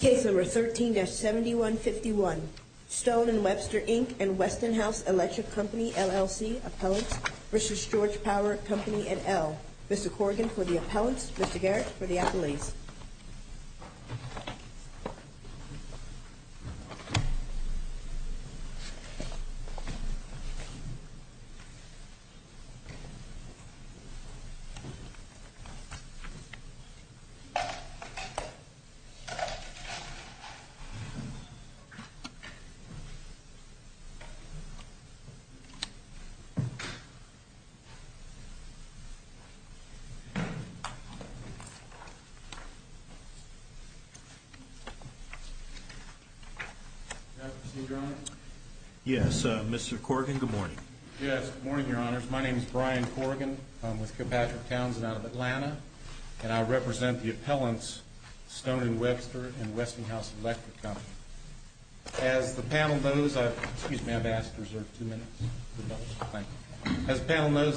Case number 13-7151, Stone & Webster, Inc. v. Weston House Electric Company, LLC, Appellants v. Georgia Power Company, et al. Mr. Corrigan for the Appellants, Mr. Garrett for the Appellees. Good morning, Your Honors. My name is Brian Corrigan. I'm with Kilpatrick Townsend out of Atlanta. And I represent the Appellants, Stone & Webster, and Weston House Electric Company. As the panel knows,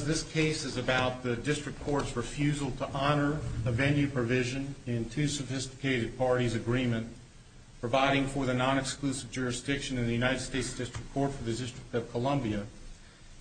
this case is about the District Court's refusal to honor a venue provision in two sophisticated parties' agreement providing for the non-exclusive jurisdiction in the United States District Court for the District of Columbia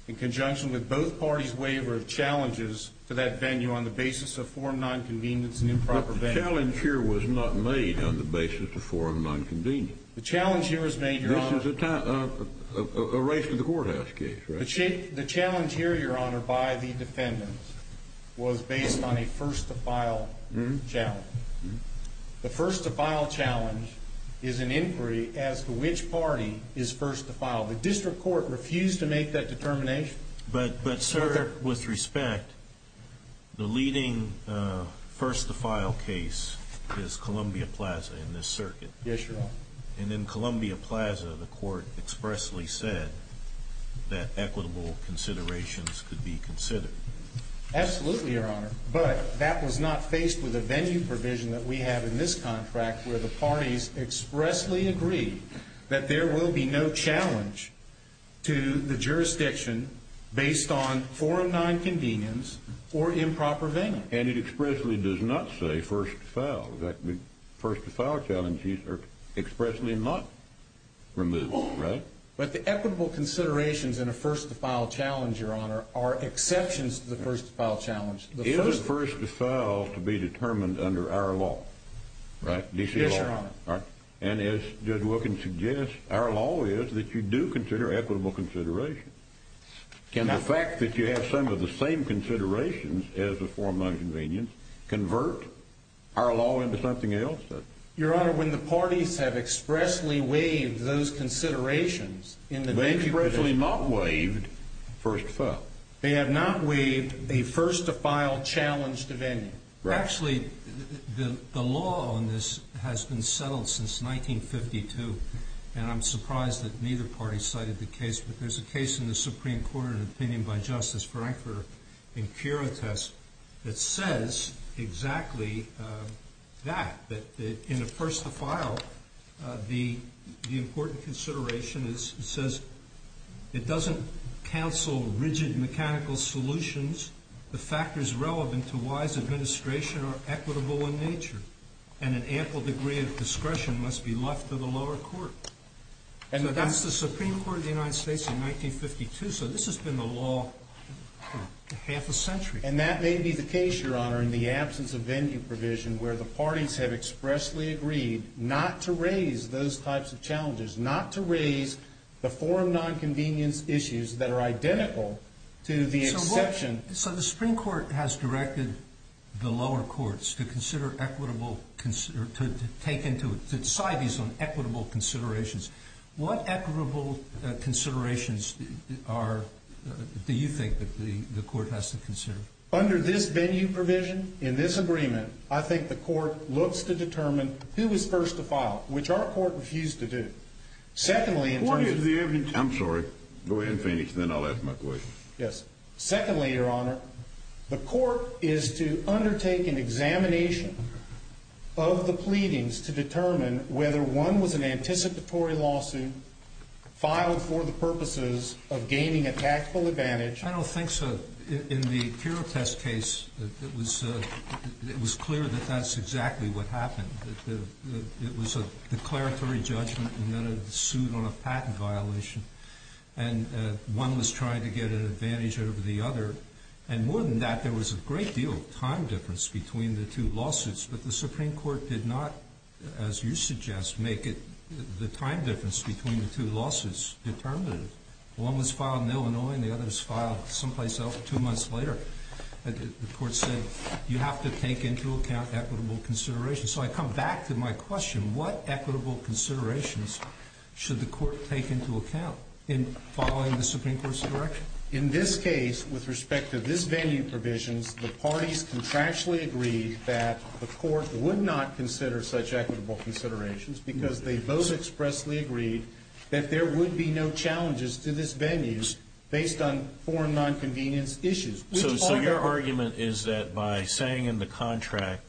in conjunction with both parties' waiver of challenges to that venue on the basis of forum non-convenience and improper venue. The challenge here was not made on the basis of forum non-convenience. The challenge here was made, Your Honor. This is a race to the courthouse case, right? The challenge here, Your Honor, by the defendants was based on a first-to-file challenge. The first-to-file challenge is an inquiry as to which party is first-to-file. The District Court refused to make that determination. But, sir, with respect, the leading first-to-file case is Columbia Plaza in this circuit. Yes, Your Honor. And in Columbia Plaza, the court expressly said that equitable considerations could be considered. Absolutely, Your Honor. But that was not faced with a venue provision that we have in this contract where the parties expressly agree that there will be no challenge to the jurisdiction based on forum non-convenience or improper venue. And it expressly does not say first-to-file. The first-to-file challenges are expressly not removed, right? But the equitable considerations in a first-to-file challenge, Your Honor, are exceptions to the first-to-file challenge. Is a first-to-file to be determined under our law, right, D.C. law? Yes, Your Honor. And as Judge Wilkins suggests, our law is that you do consider equitable considerations. Can the fact that you have some of the same considerations as the forum non-convenience convert our law into something else? Your Honor, when the parties have expressly waived those considerations in the D.C. jurisdiction... They expressly not waived first-to-file. They have not waived a first-to-file challenge to venue. Actually, the law on this has been settled since 1952, and I'm surprised that neither party cited the case. But there's a case in the Supreme Court, an opinion by Justice Frankfurter and Kyrotas, that says exactly that, that in a first-to-file, the important consideration says it doesn't counsel rigid mechanical solutions. The factors relevant to wise administration are equitable in nature, and an ample degree of discretion must be left to the lower court. And that's the Supreme Court of the United States in 1952, so this has been the law for half a century. And that may be the case, Your Honor, in the absence of venue provision, where the parties have expressly agreed not to raise those types of challenges, not to raise the forum non-convenience issues that are identical to the exception. So the Supreme Court has directed the lower courts to consider equitable, to take into, to decide these on equitable considerations. What equitable considerations are, do you think that the court has to consider? Under this venue provision, in this agreement, I think the court looks to determine who is first-to-file, which our court refused to do. Secondly, in terms of... What is the evidence... I'm sorry. Go ahead and finish, and then I'll ask my question. Yes. Secondly, Your Honor, the court is to undertake an examination of the pleadings to determine whether one was an anticipatory lawsuit, filed for the purposes of gaining a tactful advantage... I don't think so. In the Kira Test case, it was clear that that's exactly what happened. It was a declaratory judgment, and then it was sued on a patent violation. And one was trying to get an advantage over the other. And more than that, there was a great deal of time difference between the two lawsuits. But the Supreme Court did not, as you suggest, make the time difference between the two lawsuits determinative. One was filed in Illinois, and the other was filed someplace else two months later. The court said, you have to take into account equitable considerations. So I come back to my question. What equitable considerations should the court take into account in following the Supreme Court's direction? In this case, with respect to this venue provisions, the parties contractually agreed that the court would not consider such equitable considerations because they both expressly agreed that there would be no challenges to this venues based on foreign nonconvenience issues. So your argument is that by saying in the contract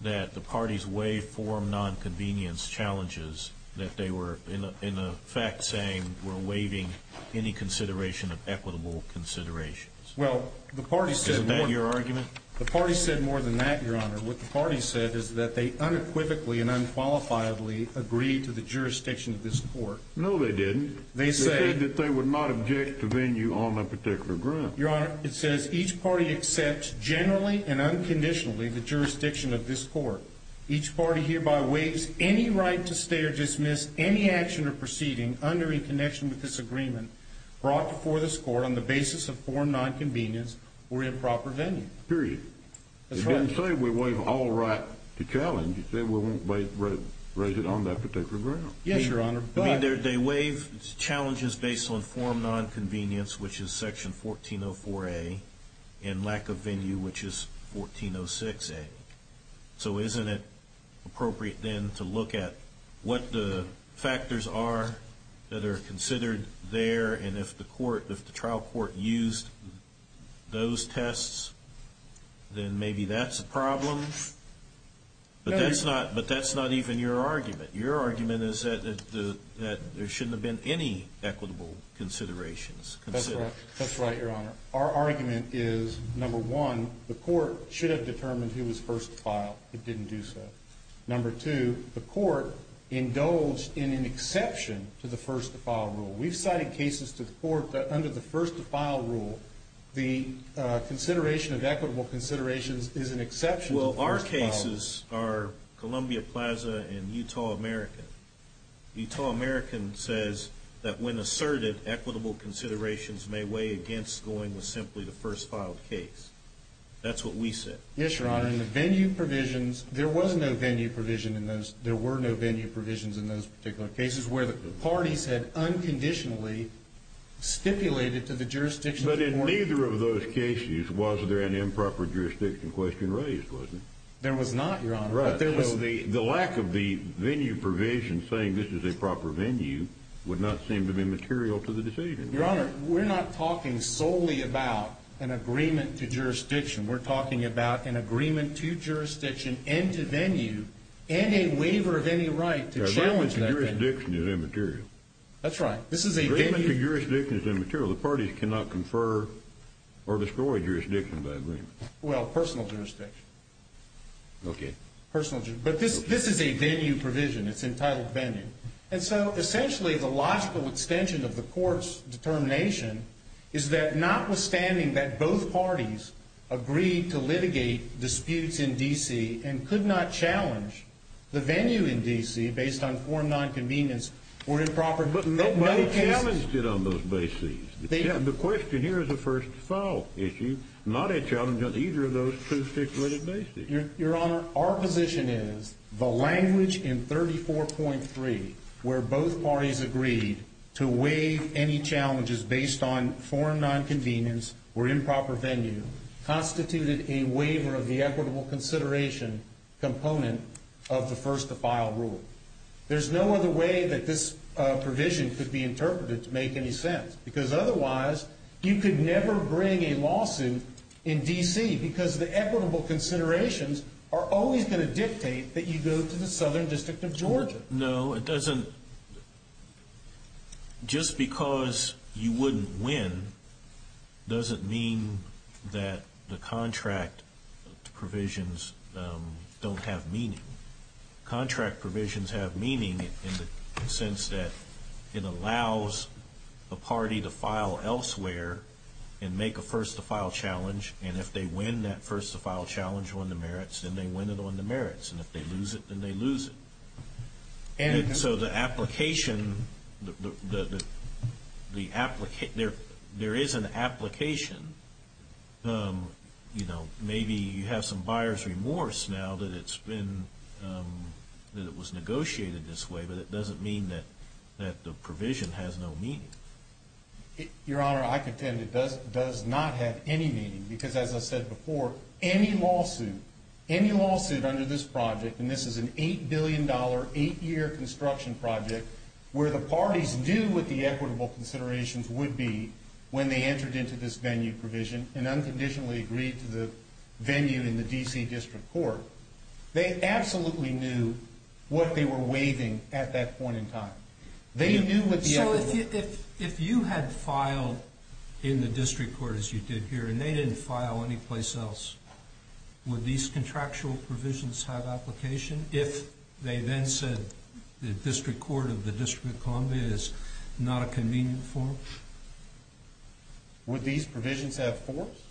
that the parties waive foreign nonconvenience challenges, that they were in effect saying we're waiving any consideration of equitable considerations. Well, the parties said... Isn't that your argument? The parties said more than that, Your Honor. What the parties said is that they unequivocally and unqualifiedly agreed to the jurisdiction of this court. No, they didn't. They said... They said that they would not object to venue on a particular ground. Your Honor, it says each party accepts generally and unconditionally the jurisdiction of this court. Each party hereby waives any right to stay or dismiss any action or proceeding under or in connection with this agreement brought before this court on the basis of foreign nonconvenience or improper venue. Period. That's right. It didn't say we waive all right to challenge. It said we won't raise it on that particular ground. Yes, Your Honor. I mean, they waive challenges based on foreign nonconvenience, which is Section 1404A, and lack of venue, which is 1406A. So isn't it appropriate then to look at what the factors are that are considered there, and if the trial court used those tests, then maybe that's a problem? But that's not even your argument. Your argument is that there shouldn't have been any equitable considerations. That's right. That's right, Your Honor. Our argument is, number one, the court should have determined who was first to file. It didn't do so. Number two, the court indulged in an exception to the first-to-file rule. We've cited cases to the court that under the first-to-file rule, Well, our cases are Columbia Plaza and Utah American. Utah American says that when asserted, equitable considerations may weigh against going with simply the first-filed case. That's what we said. Yes, Your Honor. In the venue provisions, there was no venue provision in those. There were no venue provisions in those particular cases where the parties had unconditionally stipulated to the jurisdiction. But in neither of those cases was there an improper jurisdiction question raised, was there? There was not, Your Honor. Right. The lack of the venue provision saying this is a proper venue would not seem to be material to the decision. Your Honor, we're not talking solely about an agreement to jurisdiction. We're talking about an agreement to jurisdiction and to venue and a waiver of any right to challenge that venue. Agreement to jurisdiction is immaterial. That's right. Agreement to jurisdiction is immaterial. The parties cannot confer or destroy jurisdiction by agreement. Well, personal jurisdiction. Okay. Personal jurisdiction. But this is a venue provision. It's entitled venue. And so essentially the logical extension of the court's determination is that notwithstanding that both parties agreed to litigate disputes in D.C. and could not challenge the venue in D.C. based on foreign nonconvenience or improper But nobody challenged it on those bases. The question here is a first-to-file issue, not a challenge on either of those two stipulated bases. Your Honor, our position is the language in 34.3 where both parties agreed to waive any challenges based on foreign nonconvenience or improper venue constituted a waiver of the equitable consideration component of the first-to-file rule. There's no other way that this provision could be interpreted to make any sense because otherwise you could never bring a lawsuit in D.C. because the equitable considerations are always going to dictate that you go to the Southern District of Georgia. No, it doesn't. Just because you wouldn't win doesn't mean that the contract provisions don't have meaning. Contract provisions have meaning in the sense that it allows a party to file elsewhere and make a first-to-file challenge. And if they win that first-to-file challenge on the merits, then they win it on the merits. And if they lose it, then they lose it. So the application, there is an application. Maybe you have some buyer's remorse now that it was negotiated this way, but it doesn't mean that the provision has no meaning. Your Honor, I contend it does not have any meaning because, as I said before, any lawsuit under this project, and this is an $8 billion, 8-year construction project, where the parties knew what the equitable considerations would be when they entered into this venue provision and unconditionally agreed to the venue in the D.C. District Court, they absolutely knew what they were waiving at that point in time. So if you had filed in the District Court, as you did here, and they didn't file anyplace else, would these contractual provisions have application if they then said the District Court of the District of Columbia is not a convenient forum? Would these provisions have force?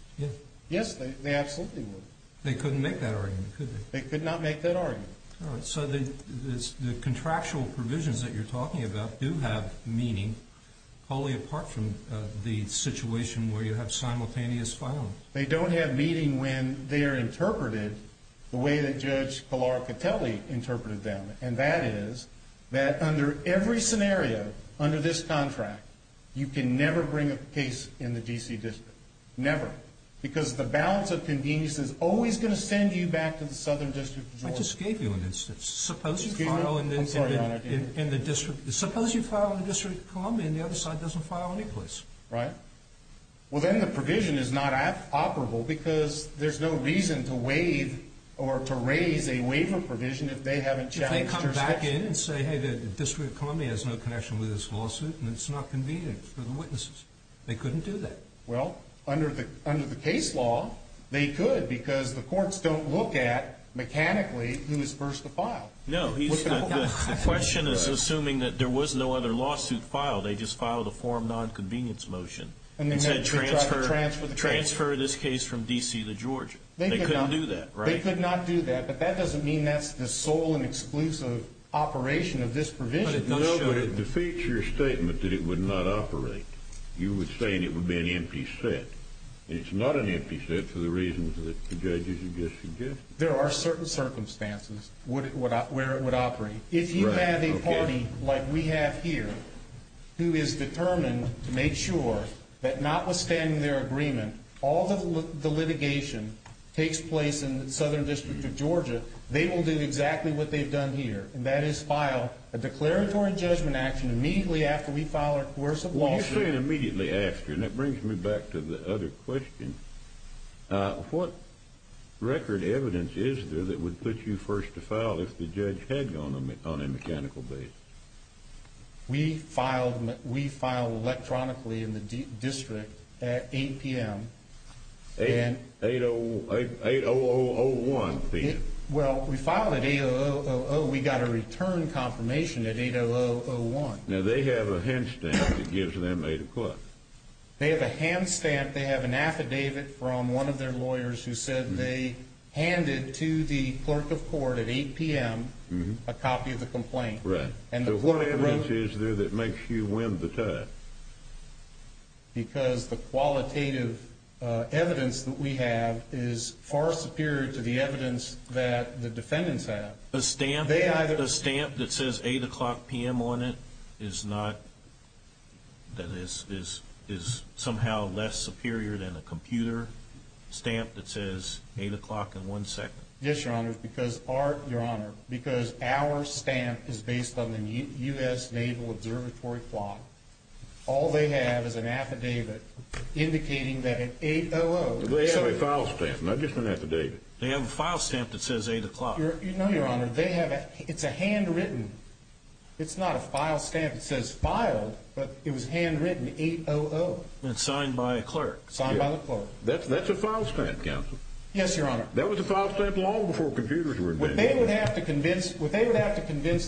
Yes, they absolutely would. They couldn't make that argument, could they? They could not make that argument. All right. So the contractual provisions that you're talking about do have meaning, only apart from the situation where you have simultaneous filing. They don't have meaning when they are interpreted the way that Judge Calaricateli interpreted them, and that is that under every scenario, under this contract, you can never bring a case in the D.C. District. Never. Because the balance of convenience is always going to send you back to the Southern District of Georgia. I just gave you an instance. Suppose you file in the District of Columbia and the other side doesn't file anyplace. Right. Well, then the provision is not operable because there's no reason to waive or to raise a waiver provision if they haven't challenged jurisdiction. If they come back in and say, hey, the District of Columbia has no connection with this lawsuit and it's not convenient for the witnesses, they couldn't do that. Well, under the case law, they could because the courts don't look at, mechanically, who is first to file. No, the question is assuming that there was no other lawsuit filed. They just filed a form of nonconvenience motion and said transfer this case from D.C. to Georgia. They couldn't do that. They could not do that, but that doesn't mean that's the sole and exclusive operation of this provision. No, but it defeats your statement that it would not operate. You were saying it would be an empty set. It's not an empty set for the reasons that the judges have just suggested. There are certain circumstances where it would operate. If you have a party like we have here who is determined to make sure that notwithstanding their agreement, all the litigation takes place in the Southern District of Georgia, they will do exactly what they've done here, and that is file a declaratory judgment action immediately after we file our coercive lawsuit. Well, you say immediately after, and that brings me back to the other question. What record evidence is there that would put you first to file if the judge had gone on a mechanical basis? We filed electronically in the district at 8 p.m. 8-0-0-0-1 p.m. Well, we filed at 8-0-0-0-0. We got a return confirmation at 8-0-0-0-1. Now, they have a hand stamp that gives them 8 o'clock. They have a hand stamp. They have an affidavit from one of their lawyers who said they handed to the clerk of court at 8 p.m. a copy of the complaint. Right. So what evidence is there that makes you win the time? Because the qualitative evidence that we have is far superior to the evidence that the defendants have. A stamp that says 8 o'clock p.m. on it is somehow less superior than a computer stamp that says 8 o'clock in one second? Yes, Your Honor, because our stamp is based on the U.S. Naval Observatory clock. All they have is an affidavit indicating that at 8-0-0-0-1- They have a file stamp, not just an affidavit. They have a file stamp that says 8 o'clock. No, Your Honor. It's a handwritten. It's not a file stamp that says filed, but it was handwritten 8-0-0-0- And signed by a clerk. Signed by the clerk. That's a file stamp, counsel. Yes, Your Honor. That was a file stamp long before computers were invented. What they would have to convince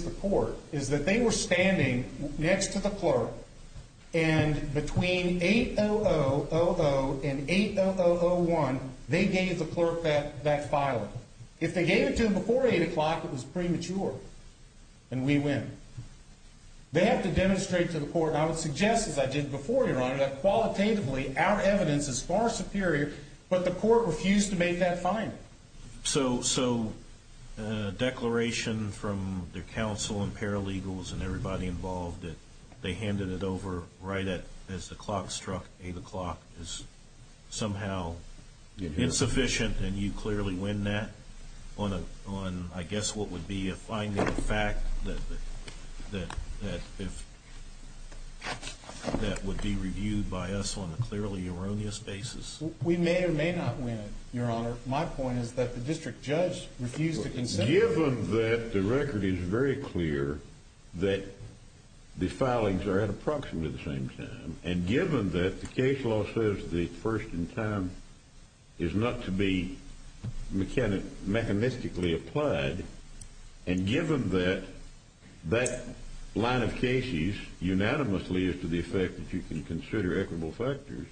the court is that they were standing next to the clerk and between 8-0-0-0- And 8-0-0-0-1, they gave the clerk that file. If they gave it to them before 8 o'clock, it was premature. And we win. They have to demonstrate to the court, and I would suggest as I did before, Your Honor, that qualitatively our evidence is far superior, But the court refused to make that finding. So a declaration from the counsel and paralegals and everybody involved that they handed it over right as the clock struck 8 o'clock is somehow insufficient, And you clearly win that on, I guess, what would be a finding of fact that would be reviewed by us on a clearly erroneous basis. We may or may not win it, Your Honor. My point is that the district judge refused to consent. Given that the record is very clear that the filings are at approximately the same time, And given that the case law says the first in time is not to be mechanistically applied, And given that that line of cases unanimously is to the effect that you can consider equitable factors,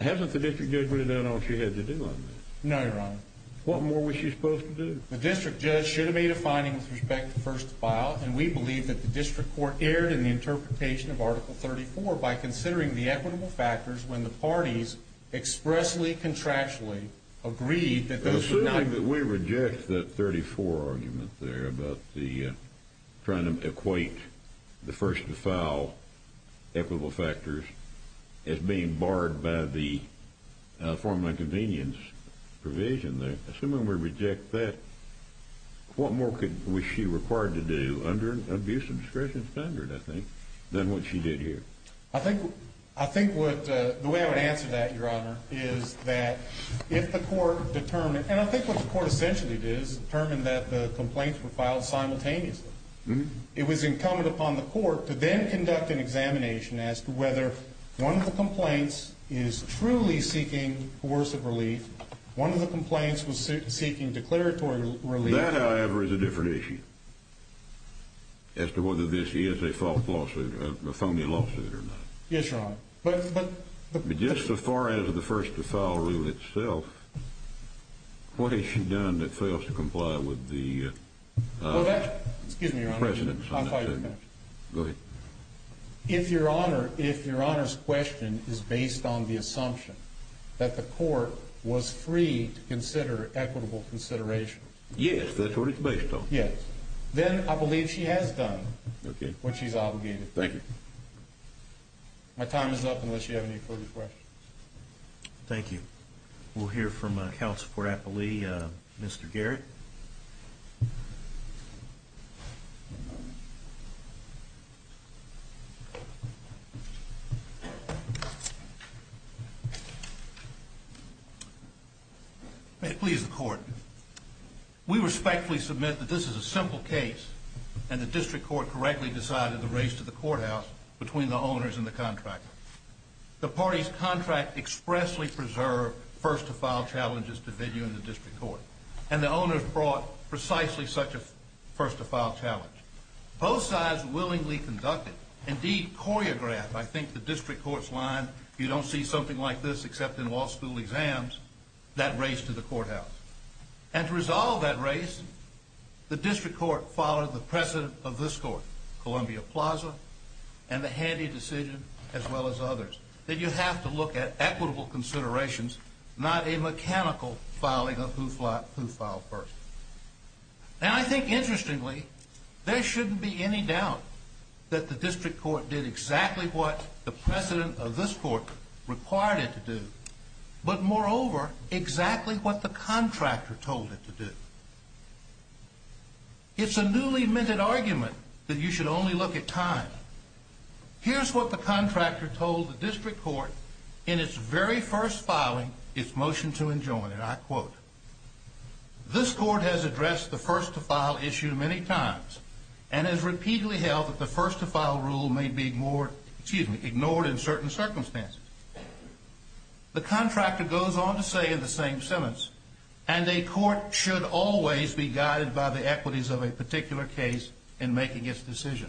Hasn't the district judge really done all she had to do on this? No, Your Honor. What more was she supposed to do? The district judge should have made a finding with respect to first to file, And we believe that the district court erred in the interpretation of Article 34 by considering the equitable factors when the parties expressly, contractually agreed that those were not... ...to be barred by the formal inconvenience provision there. Assuming we reject that, what more was she required to do under an abuse of discretion standard, I think, than what she did here? I think the way I would answer that, Your Honor, is that if the court determined... And I think what the court essentially did is determine that the complaints were filed simultaneously. It was incumbent upon the court to then conduct an examination as to whether one of the complaints is truly seeking coercive relief, One of the complaints was seeking declaratory relief... That, however, is a different issue as to whether this is a false lawsuit, a phony lawsuit or not. Yes, Your Honor. But just so far as the first to file rule itself, what has she done that fails to comply with the... Excuse me, Your Honor. Go ahead. If Your Honor's question is based on the assumption that the court was free to consider equitable consideration... Yes, that's what it's based on. Yes. Then I believe she has done what she's obligated to do. Thank you. My time is up unless you have any further questions. Thank you. We'll hear from a counsel for Applee, Mr. Garrett. May it please the court. We respectfully submit that this is a simple case and the district court correctly decided to raise to the courthouse between the owners and the contractor. The party's contract expressly preserved first to file challenges to video in the district court. And the owners brought precisely such a first to file challenge. Both sides willingly conducted, indeed choreographed, I think the district court's line, You don't see something like this except in law school exams, that race to the courthouse. And to resolve that race, the district court followed the precedent of this court, Columbia Plaza, and the Handy decision, as well as others. That you have to look at equitable considerations, not a mechanical filing of who filed first. And I think interestingly, there shouldn't be any doubt that the district court did exactly what the precedent of this court required it to do. But moreover, exactly what the contractor told it to do. It's a newly minted argument that you should only look at time. Here's what the contractor told the district court in its very first filing, its motion to enjoin it. I quote, This court has addressed the first to file issue many times and has repeatedly held that the first to file rule may be ignored in certain circumstances. The contractor goes on to say in the same sentence, And a court should always be guided by the equities of a particular case in making its decision.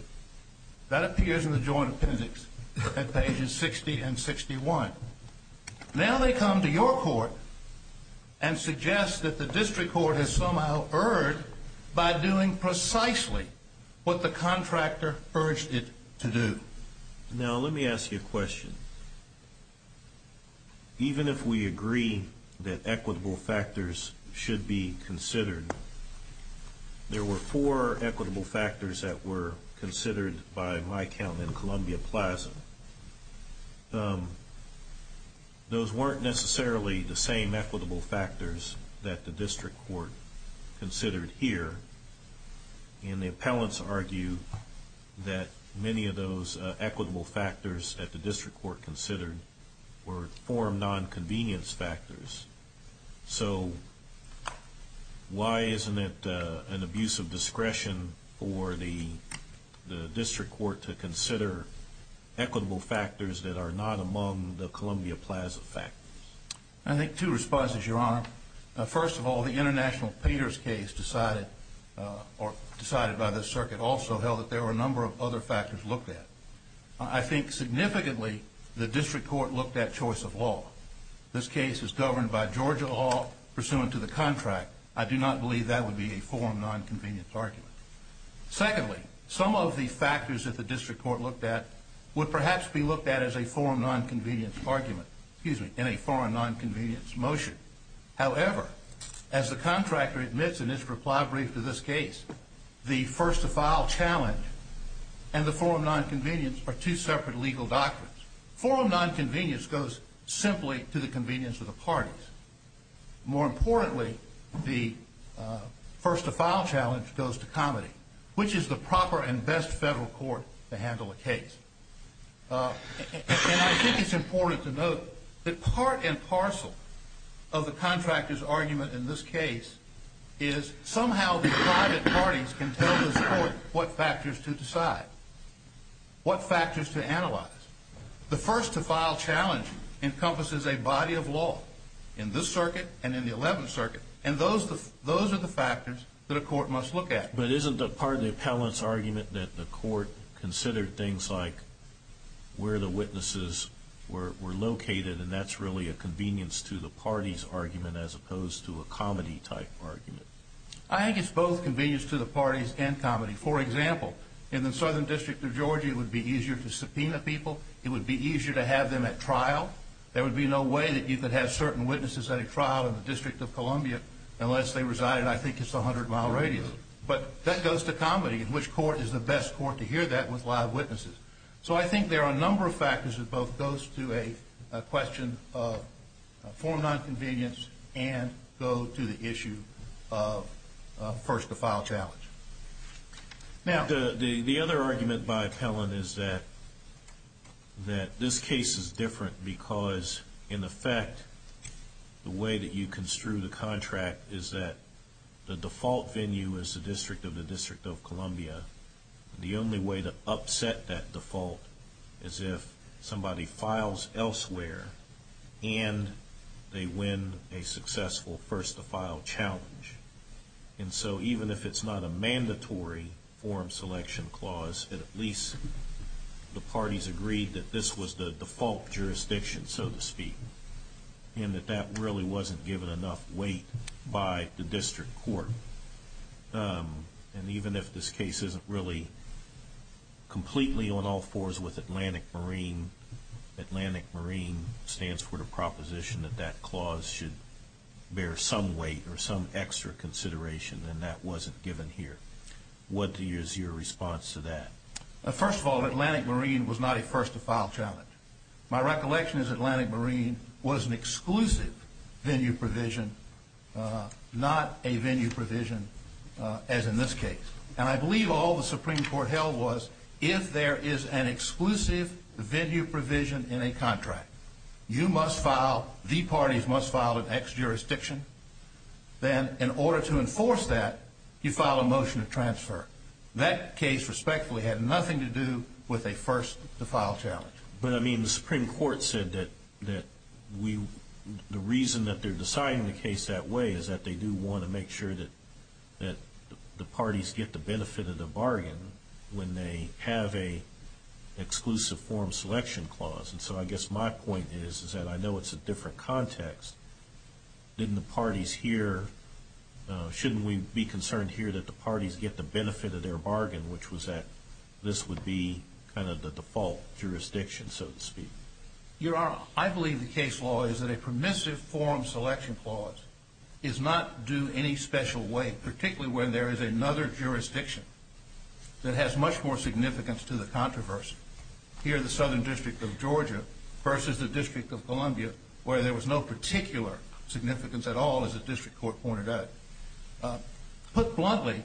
That appears in the joint appendix at pages 60 and 61. Now they come to your court and suggest that the district court has somehow erred by doing precisely what the contractor urged it to do. Now let me ask you a question. Even if we agree that equitable factors should be considered, There were four equitable factors that were considered by my account in Columbia Plaza. Those weren't necessarily the same equitable factors that the district court considered here. And the appellants argue that many of those equitable factors that the district court considered were forum non-convenience factors. So why isn't it an abuse of discretion for the district court to consider equitable factors that are not among the Columbia Plaza factors? I think two responses, Your Honor. First of all, the International Payers case decided by the circuit also held that there were a number of other factors looked at. I think significantly the district court looked at choice of law. This case is governed by Georgia law pursuant to the contract. I do not believe that would be a forum non-convenience argument. Secondly, some of the factors that the district court looked at would perhaps be looked at as a forum non-convenience argument, in a forum non-convenience motion. However, as the contractor admits in his reply brief to this case, the first-to-file challenge and the forum non-convenience are two separate legal doctrines. Forum non-convenience goes simply to the convenience of the parties. More importantly, the first-to-file challenge goes to comedy, which is the proper and best federal court to handle a case. And I think it's important to note that part and parcel of the contractor's argument in this case is somehow the private parties can tell the court what factors to decide, what factors to analyze. The first-to-file challenge encompasses a body of law in this circuit and in the Eleventh Circuit, and those are the factors that a court must look at. But isn't part of the appellant's argument that the court considered things like where the witnesses were located, and that's really a convenience-to-the-parties argument as opposed to a comedy-type argument? I think it's both convenience-to-the-parties and comedy. For example, in the Southern District of Georgia, it would be easier to subpoena people. It would be easier to have them at trial. There would be no way that you could have certain witnesses at a trial in the District of Columbia unless they resided, I think, just a hundred-mile radius. But that goes to comedy, and which court is the best court to hear that with live witnesses? So I think there are a number of factors that both goes to a question of formal nonconvenience and go to the issue of first-to-file challenge. Now, the other argument by appellant is that this case is different because, in effect, the way that you construe the contract is that the default venue is the District of the District of Columbia. The only way to upset that default is if somebody files elsewhere and they win a successful first-to-file challenge. And so even if it's not a mandatory form selection clause, at least the parties agreed that this was the default jurisdiction, so to speak, and that that really wasn't given enough weight by the district court. And even if this case isn't really completely on all fours with Atlantic Marine, Atlantic Marine stands for the proposition that that clause should bear some weight or some extra consideration, and that wasn't given here. What is your response to that? First of all, Atlantic Marine was not a first-to-file challenge. My recollection is Atlantic Marine was an exclusive venue provision, not a venue provision as in this case. And I believe all the Supreme Court held was if there is an exclusive venue provision in a contract, you must file, the parties must file an ex-jurisdiction. Then in order to enforce that, you file a motion to transfer. That case, respectfully, had nothing to do with a first-to-file challenge. But, I mean, the Supreme Court said that the reason that they're deciding the case that way is that they do want to make sure that the parties get the benefit of the bargain when they have an exclusive form selection clause. And so I guess my point is that I know it's a different context. Shouldn't we be concerned here that the parties get the benefit of their bargain, which was that this would be kind of the default jurisdiction, so to speak? Your Honor, I believe the case law is that a permissive form selection clause is not due any special way, particularly when there is another jurisdiction that has much more significance to the controversy. Here in the Southern District of Georgia versus the District of Columbia, where there was no particular significance at all, as the District Court pointed out. Put bluntly,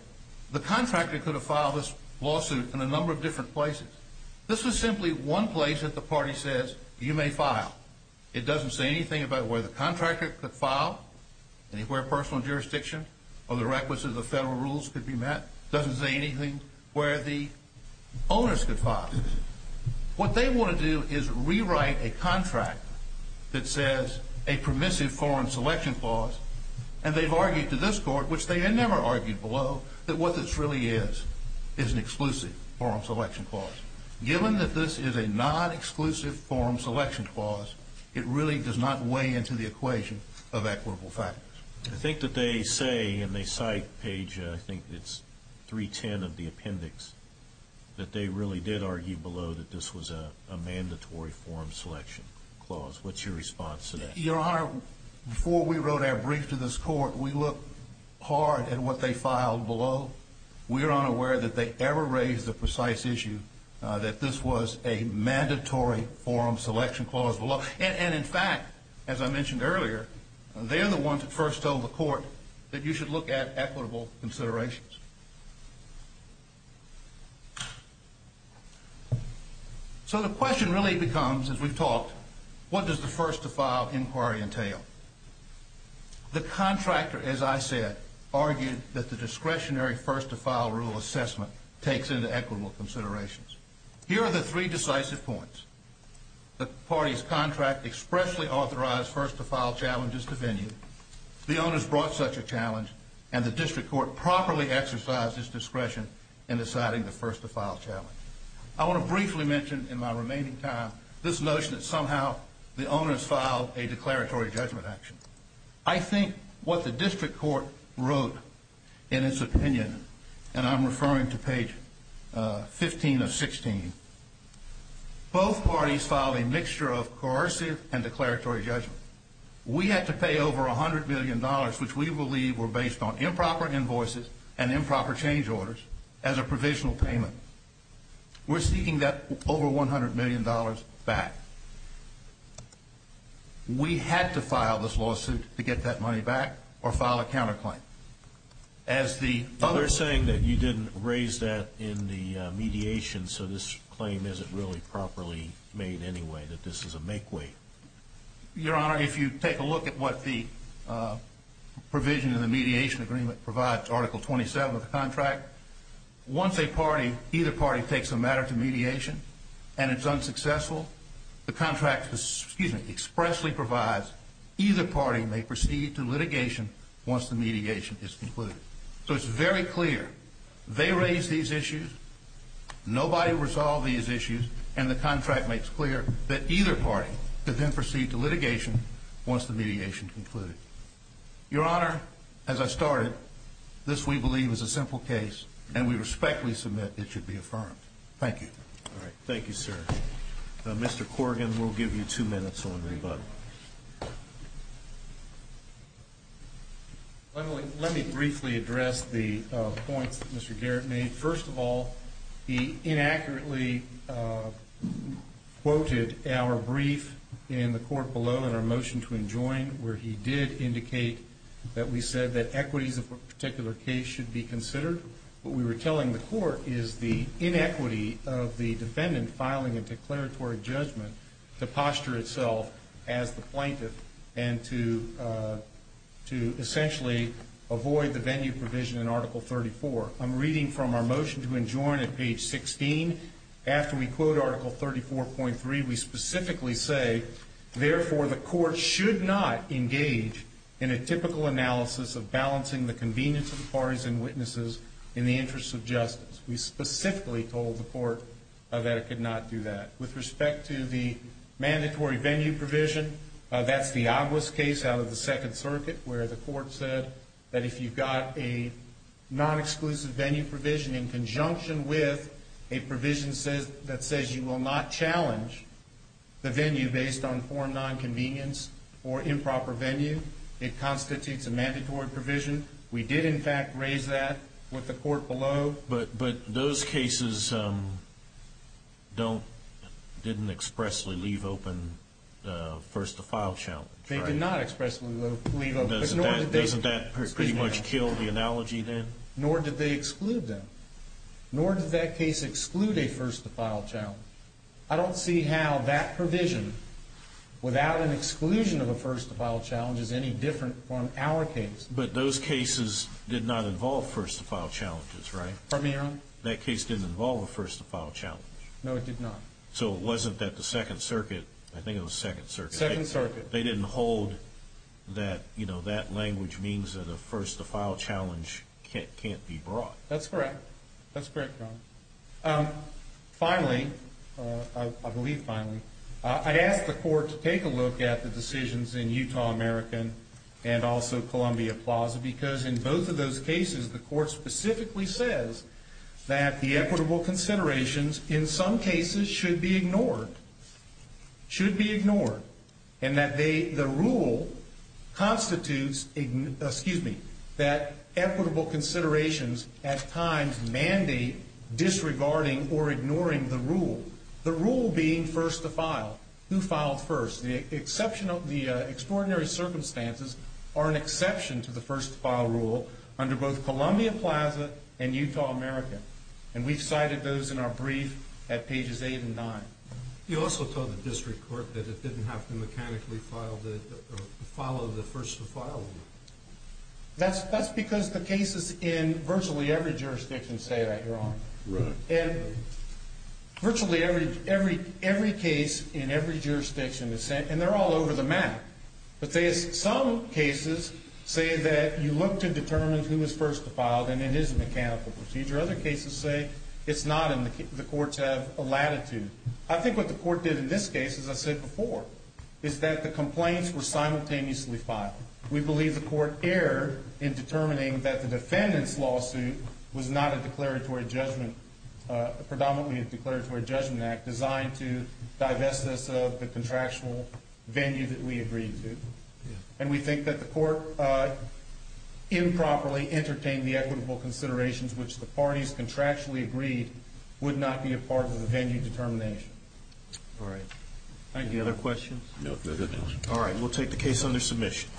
the contractor could have filed this lawsuit in a number of different places. This was simply one place that the party says, you may file. It doesn't say anything about where the contractor could file, anywhere personal jurisdiction or the requisite of the federal rules could be met. Doesn't say anything where the owners could file. What they want to do is rewrite a contract that says a permissive form selection clause, and they've argued to this Court, which they had never argued below, that what this really is is an exclusive form selection clause. Given that this is a non-exclusive form selection clause, it really does not weigh into the equation of equitable factors. I think that they say, and they cite page, I think it's 310 of the appendix, that they really did argue below that this was a mandatory form selection clause. What's your response to that? Your Honor, before we wrote our brief to this Court, we looked hard at what they filed below. We are unaware that they ever raised the precise issue that this was a mandatory form selection clause below. And in fact, as I mentioned earlier, they're the ones that first told the Court that you should look at equitable considerations. So the question really becomes, as we've talked, what does the first-to-file inquiry entail? The contractor, as I said, argued that the discretionary first-to-file rule assessment takes into equitable considerations. Here are the three decisive points. The party's contract expressly authorized first-to-file challenges to venue. The owners brought such a challenge, and the district court properly exercised its discretion in deciding the first-to-file challenge. I want to briefly mention in my remaining time this notion that somehow the owners filed a declaratory judgment action. I think what the district court wrote in its opinion, and I'm referring to page 15 of 16, both parties filed a mixture of coercive and declaratory judgment. We had to pay over $100 million, which we believe were based on improper invoices and improper change orders, as a provisional payment. We're seeking that over $100 million back. We had to file this lawsuit to get that money back or file a counterclaim. As the other... ...claim, is it really properly made anyway that this is a make-way? Your Honor, if you take a look at what the provision in the mediation agreement provides, Article 27 of the contract, once a party, either party, takes a matter to mediation, and it's unsuccessful, the contract expressly provides either party may proceed to litigation once the mediation is concluded. So it's very clear. They raise these issues. Nobody resolved these issues. And the contract makes clear that either party could then proceed to litigation once the mediation concluded. Your Honor, as I started, this, we believe, is a simple case, and we respectfully submit it should be affirmed. Thank you. Thank you, sir. Mr. Corrigan, we'll give you two minutes on rebuttal. Let me briefly address the points that Mr. Garrett made. First of all, he inaccurately quoted our brief in the court below in our motion to enjoin, where he did indicate that we said that equities of a particular case should be considered. What we were telling the court is the inequity of the defendant filing a declaratory judgment to posture itself as the plaintiff and to essentially avoid the venue provision in Article 34. I'm reading from our motion to enjoin at page 16. After we quote Article 34.3, we specifically say, therefore, the court should not engage in a typical analysis of balancing the convenience of the parties and witnesses in the interest of justice. We specifically told the court that it could not do that. With respect to the mandatory venue provision, that's the obvious case out of the Second Circuit, where the court said that if you've got a non-exclusive venue provision in conjunction with a provision that says you will not challenge the venue based on foreign nonconvenience or improper venue, it constitutes a mandatory provision. We did, in fact, raise that with the court below. But those cases didn't expressly leave open a first-to-file challenge. They did not expressly leave open. Doesn't that pretty much kill the analogy then? Nor did they exclude them. Nor did that case exclude a first-to-file challenge. I don't see how that provision, without an exclusion of a first-to-file challenge, is any different from our case. But those cases did not involve first-to-file challenges, right? Pardon me, Your Honor? That case didn't involve a first-to-file challenge. No, it did not. So it wasn't that the Second Circuit, I think it was Second Circuit. Second Circuit. They didn't hold that that language means that a first-to-file challenge can't be brought. That's correct. That's correct, Your Honor. Finally, I believe finally, I ask the court to take a look at the decisions in Utah American and also Columbia Plaza because in both of those cases the court specifically says that the equitable considerations in some cases should be ignored, should be ignored, and that the rule constitutes, excuse me, that equitable considerations at times mandate disregarding or ignoring the rule, the rule being first-to-file, who filed first. The extraordinary circumstances are an exception to the first-to-file rule under both Columbia Plaza and Utah American, and we've cited those in our brief at pages 8 and 9. You also told the district court that it didn't have to mechanically follow the first-to-file rule. That's because the cases in virtually every jurisdiction say that, Your Honor. Right. Virtually every case in every jurisdiction is saying, and they're all over the map, but some cases say that you look to determine who is first-to-file and it is a mechanical procedure. Other cases say it's not and the courts have a latitude. I think what the court did in this case, as I said before, is that the complaints were simultaneously filed. We believe the court erred in determining that the defendant's lawsuit was not a declaratory judgment, predominantly a declaratory judgment act designed to divest us of the contractual venue that we agreed to, and we think that the court improperly entertained the equitable considerations which the parties contractually agreed would not be a part of the venue determination. All right. Any other questions? No. All right. We'll take the case under submission.